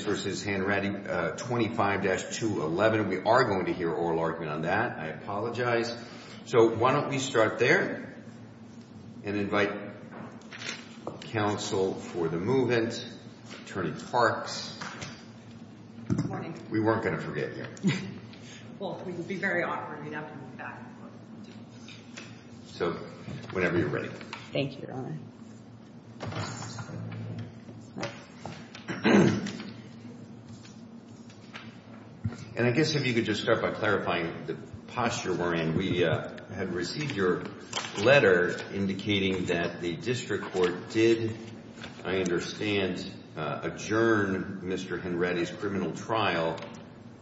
25-211. We are going to hear an oral argument on that. I apologize. So why don't we start there and invite counsel for the movement, Attorney Parks. We weren't going to forget you. So whenever you're ready. Thank you, Your Honor. And I guess if you could just start by clarifying the posture we're in. We had received your letter indicating that the district court did, I understand, adjourn Mr. Hanratty's criminal trial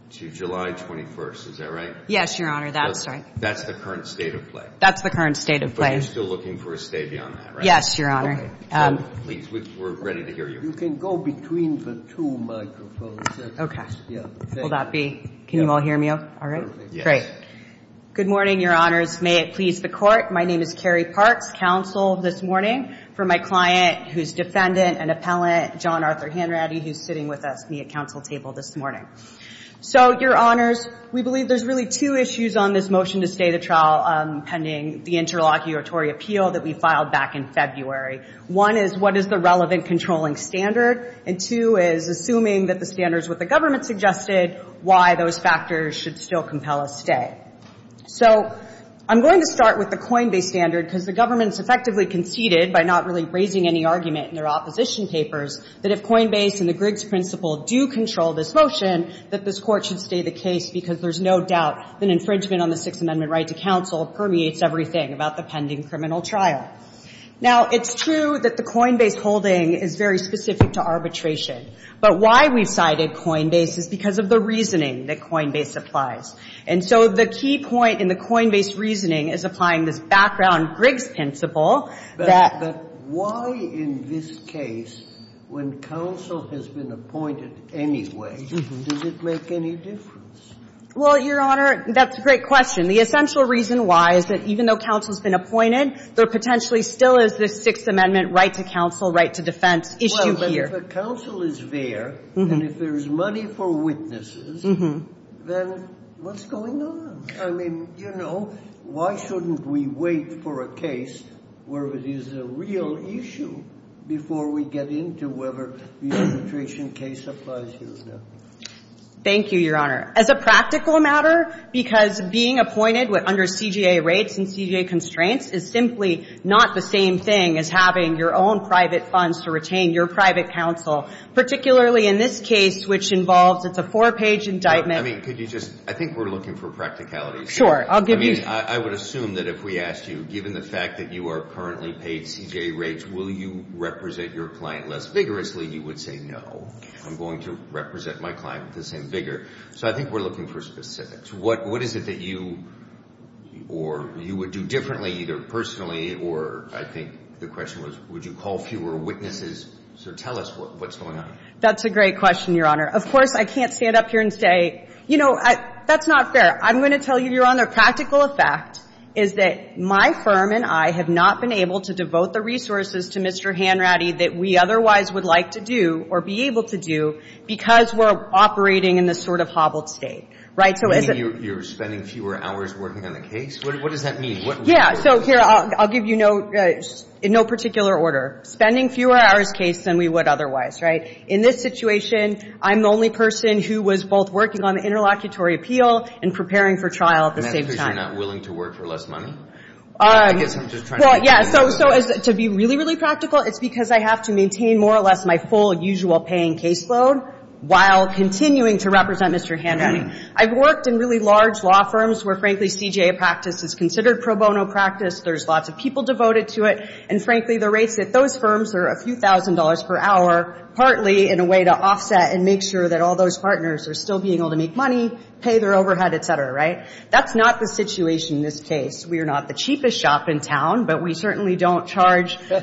to July 21st. Is that right? Yes, Your Honor. That's right. That's the current state of play. That's the current state of play. But you're still looking for a stay beyond that, right? Yes, Your Honor. We're ready to hear you. You can go between the two microphones. Okay. Will that be? Can you all hear me all right? Great. Good morning, Your Honors. May it please the Court. My name is Carrie Parks. Counsel this morning for my client who's defendant and appellant, John Arthur Hanratty, who's sitting with me at counsel table this morning. So, Your Honors, we believe there's really two issues on this motion to stay the trial pending the interlocutory appeal that we filed back in February. One is, what is the relevant controlling standard? And two is, assuming that the standards with the government suggested, why those factors should still compel a stay? So, I'm going to start with the Coinbase standard, because the government's effectively conceded, by not really raising any argument in their opposition papers, that if Coinbase and the Griggs principle do control this motion, that this Court should stay the case, because there's no doubt that infringement on the Sixth Amendment right to counsel permeates everything about the pending criminal trial. Now, it's true that the Coinbase holding is very specific to arbitration. But why we've cited Coinbase is because of the reasoning that Coinbase applies. And so the key point in the Coinbase reasoning is applying this background Griggs principle that the ---- But why, in this case, when counsel has been appointed anyway, does it make any difference? Well, Your Honor, that's a great question. The essential reason why is that even though counsel's been appointed, there potentially still is this Sixth Amendment right to counsel, right to defense issue here. If a counsel is there, and if there's money for witnesses, then what's going on? I mean, you know, why shouldn't we wait for a case where it is a real issue before we get into whether the arbitration case applies here or not? Thank you, Your Honor. As a practical matter, because being appointed under CJA rates and CJA constraints is simply not the same thing as having your own private funds to retain your private counsel, particularly in this case, which involves it's a four-page indictment. I mean, could you just ---- I think we're looking for practicalities here. Sure. I'll give you ---- I mean, I would assume that if we asked you, given the fact that you are currently paid CJA rates, will you represent your client less vigorously, you would say no. I'm going to represent my client with the same vigor. So I think we're looking for specifics. What is it that you or you would do differently, either personally or, I think the question was, would you call fewer witnesses? So tell us what's going on. That's a great question, Your Honor. Of course, I can't stand up here and say, you know, that's not fair. I'm going to tell you, Your Honor, practical effect is that my firm and I have not been able to devote the resources to Mr. Hanratty that we otherwise would like to do or be able to do because we're operating in this sort of hobbled state, right? So is it ---- You're spending fewer hours working on the case? What does that mean? What ---- Yeah. So here, I'll give you no particular order. Spending fewer hours case than we would otherwise, right? In this situation, I'm the only person who was both working on the interlocutory appeal and preparing for trial at the same time. And that's because you're not willing to work for less money? I guess I'm just trying to ---- Well, yeah. So to be really, really practical, it's because I have to maintain more or less my full usual paying caseload while continuing to represent Mr. Hanratty. I've worked in really large law firms where, frankly, CJA practice is considered pro bono practice. There's lots of people devoted to it. And, frankly, the rates at those firms are a few thousand dollars per hour, partly in a way to offset and make sure that all those partners are still being able to make money, pay their overhead, et cetera, right? That's not the situation in this case. We are not the cheapest shop in town, but we certainly don't charge, you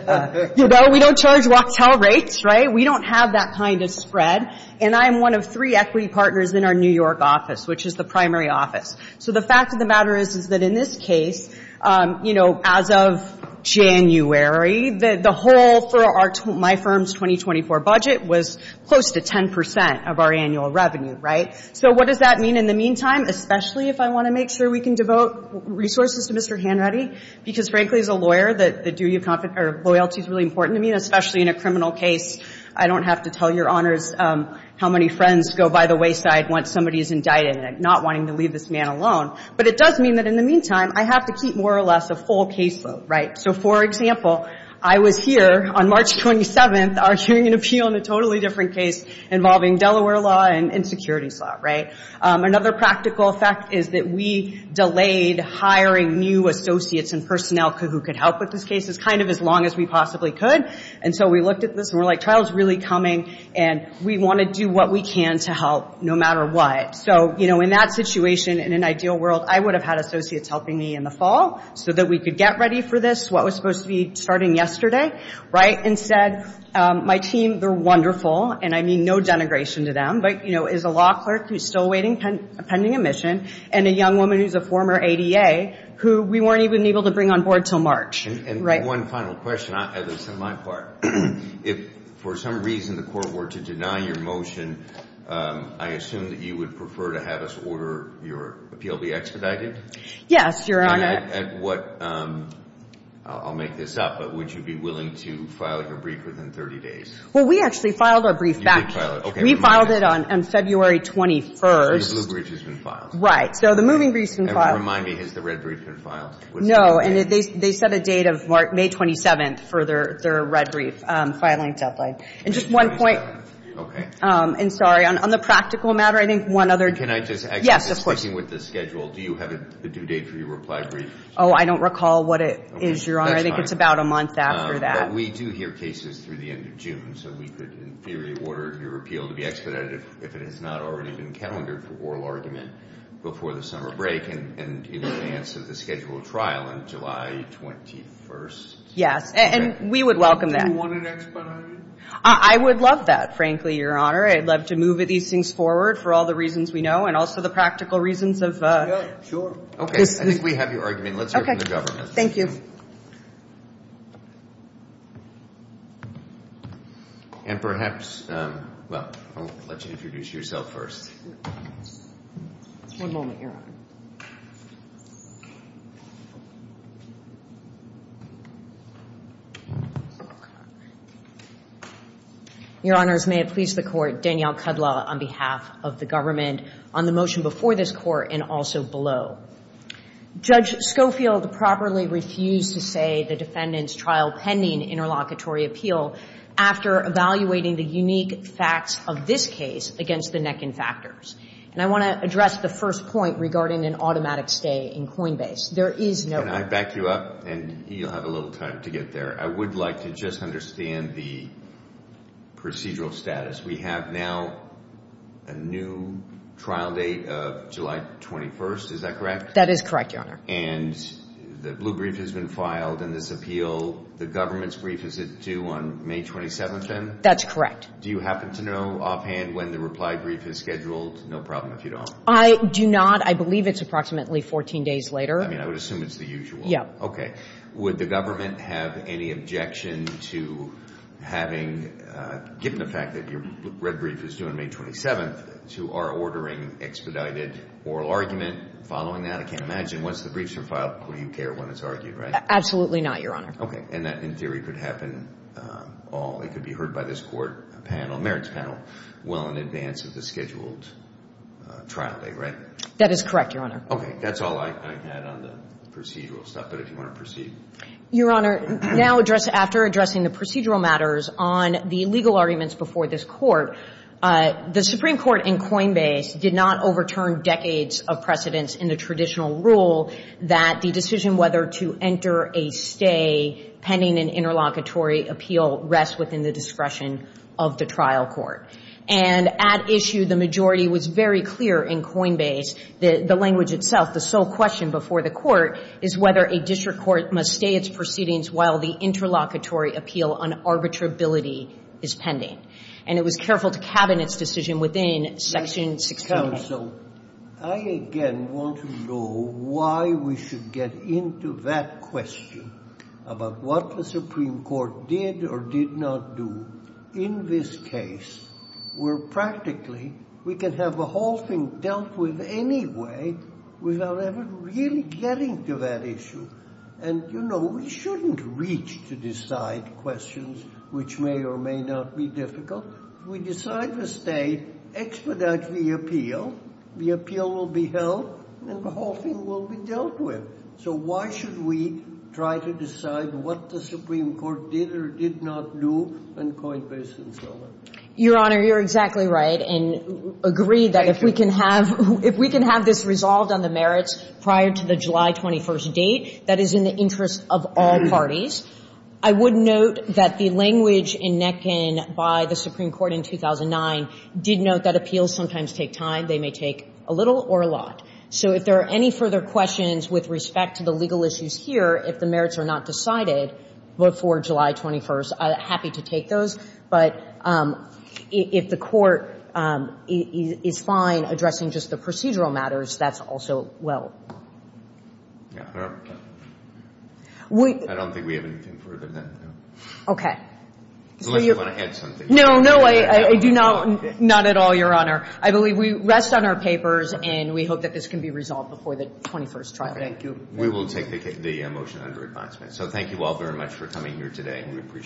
know, we don't charge Wachtell rates, right? We don't have that kind of spread. And I am one of three equity partners in our New York office, which is the primary office. So the fact of the matter is, is that in this case, you know, as of January, the whole for my firm's 2024 budget was close to 10% of our annual revenue, right? So what does that mean in the meantime, especially if I want to make sure we can devote resources to Mr. Hanratty? Because, frankly, as a lawyer, the duty of loyalty is really important to me, especially in a criminal case. I don't have to tell your honors how many friends go by the wayside once somebody is indicted and not wanting to leave this man alone. But it does mean that in the meantime, I have to keep more or less a full caseload, right? So, for example, I was here on March 27th arguing an appeal in a totally different case involving Delaware law and securities law, right? Another practical effect is that we delayed hiring new associates and personnel who could help with this case as kind of as long as we possibly could. And so we looked at this, and we're like, trial's really coming, and we want to do what we can to help no matter what. So, you know, in that situation, in an ideal world, I would have had associates helping me in the fall so that we could get ready for this, what was supposed to be starting yesterday, right? And instead, my team, they're wonderful, and I mean no denigration to them, but, you know, is a law clerk who's still waiting, pending admission, and a young woman who's a former ADA who we weren't even able to bring on board until March, right? And one final question, as it's on my part. If for some reason the court were to deny your motion, I assume that you would prefer to have us order your appeal be expedited? Yes, Your Honor. And at what, I'll make this up, but would you be willing to file your brief within 30 days? Well, we actually filed our brief back. You did file it, okay. We filed it on February 21st. So the blue brief has been filed. Right. So the moving brief's been filed. And remind me, has the red brief been filed? No, and they set a date of May 27th for their red brief filing deadline. And just one point. Okay. And sorry, on the practical matter, I think one other. Can I just add something? Do you have a due date for your reply brief? Oh, I don't recall what it is, Your Honor. I think it's about a month after that. But we do hear cases through the end of June. So we could, in theory, order your appeal to be expedited if it has not already been calendared for oral argument before the summer break and in advance of the scheduled trial on July 21st. Yes, and we would welcome that. Do you want it expedited? I would love that, frankly, Your Honor. I'd love to move these things forward for all the reasons we know and also the practical reasons of this. Okay. I think we have your argument. Let's hear from the government. Thank you. And perhaps, well, I'll let you introduce yourself first. One moment, Your Honor. Your Honors, may it please the Court, Danielle Kudlow on behalf of the government on the motion before this Court and also below. Judge Schofield properly refused to say the defendant's trial pending interlocutory appeal after evaluating the unique facts of this case against the neck and factors. And I want to address the first point regarding an automatic stay in Coinbase. There is no – Can I back you up? And you'll have a little time to get there. I would like to just understand the procedural status. We have now a new trial date of July 21st. Is that correct? That is correct, Your Honor. And the blue brief has been filed in this appeal. The government's brief is due on May 27th, then? That's correct. Do you happen to know offhand when the reply brief is scheduled? No problem if you don't. I do not. I believe it's approximately 14 days later. I mean, I would assume it's the usual. Okay. Would the government have any objection to having – given the fact that your red brief is due on May 27th, to our ordering expedited oral argument following that? I can't imagine. Once the briefs are filed, who do you care when it's argued, right? Absolutely not, Your Honor. Okay. And that, in theory, could happen all – it could be heard by this Court panel, merits panel, well in advance of the scheduled trial date, right? That is correct, Your Honor. Okay. That's all I had on the procedural stuff. But if you want to proceed. Your Honor, now address – after addressing the procedural matters on the legal arguments before this Court, the Supreme Court in Coinbase did not overturn decades of precedence in the traditional rule that the decision whether to enter a stay pending an interlocutory appeal rests within the discretion of the trial court. And at issue, the majority was very clear in Coinbase that the language itself, the sole question before the Court, is whether a district court must stay its proceedings while the interlocutory appeal on arbitrability is pending. And it was careful to cabin its decision within Section 16A. So I, again, want to know why we should get into that question about what the Supreme Court did or did not do in this case where practically we can have the whole thing dealt with anyway without ever really getting to that issue. And, you know, we shouldn't reach to decide questions which may or may not be difficult. We decide to stay, expedite the appeal, the appeal will be held, and the whole thing will be dealt with. So why should we try to decide what the Supreme Court did or did not do in Coinbase and so on? Your Honor, you're exactly right and agree that if we can have – if we can have this resolved on the merits prior to the July 21st date, that is in the interest of all parties. I would note that the language in Netkin by the Supreme Court in 2009 did note that appeals sometimes take time. They may take a little or a lot. So if there are any further questions with respect to the legal issues here, if the merits are not decided before July 21st, I'm happy to take those. But if the Court is fine addressing just the procedural matters, that's also well. Yeah. I don't think we have anything further. Okay. Unless you want to add something. No, no. I do not at all, Your Honor. I believe we rest on our papers and we hope that this can be resolved before the 21st trial date. We will take the motion under advisement. So thank you all very much for coming here today.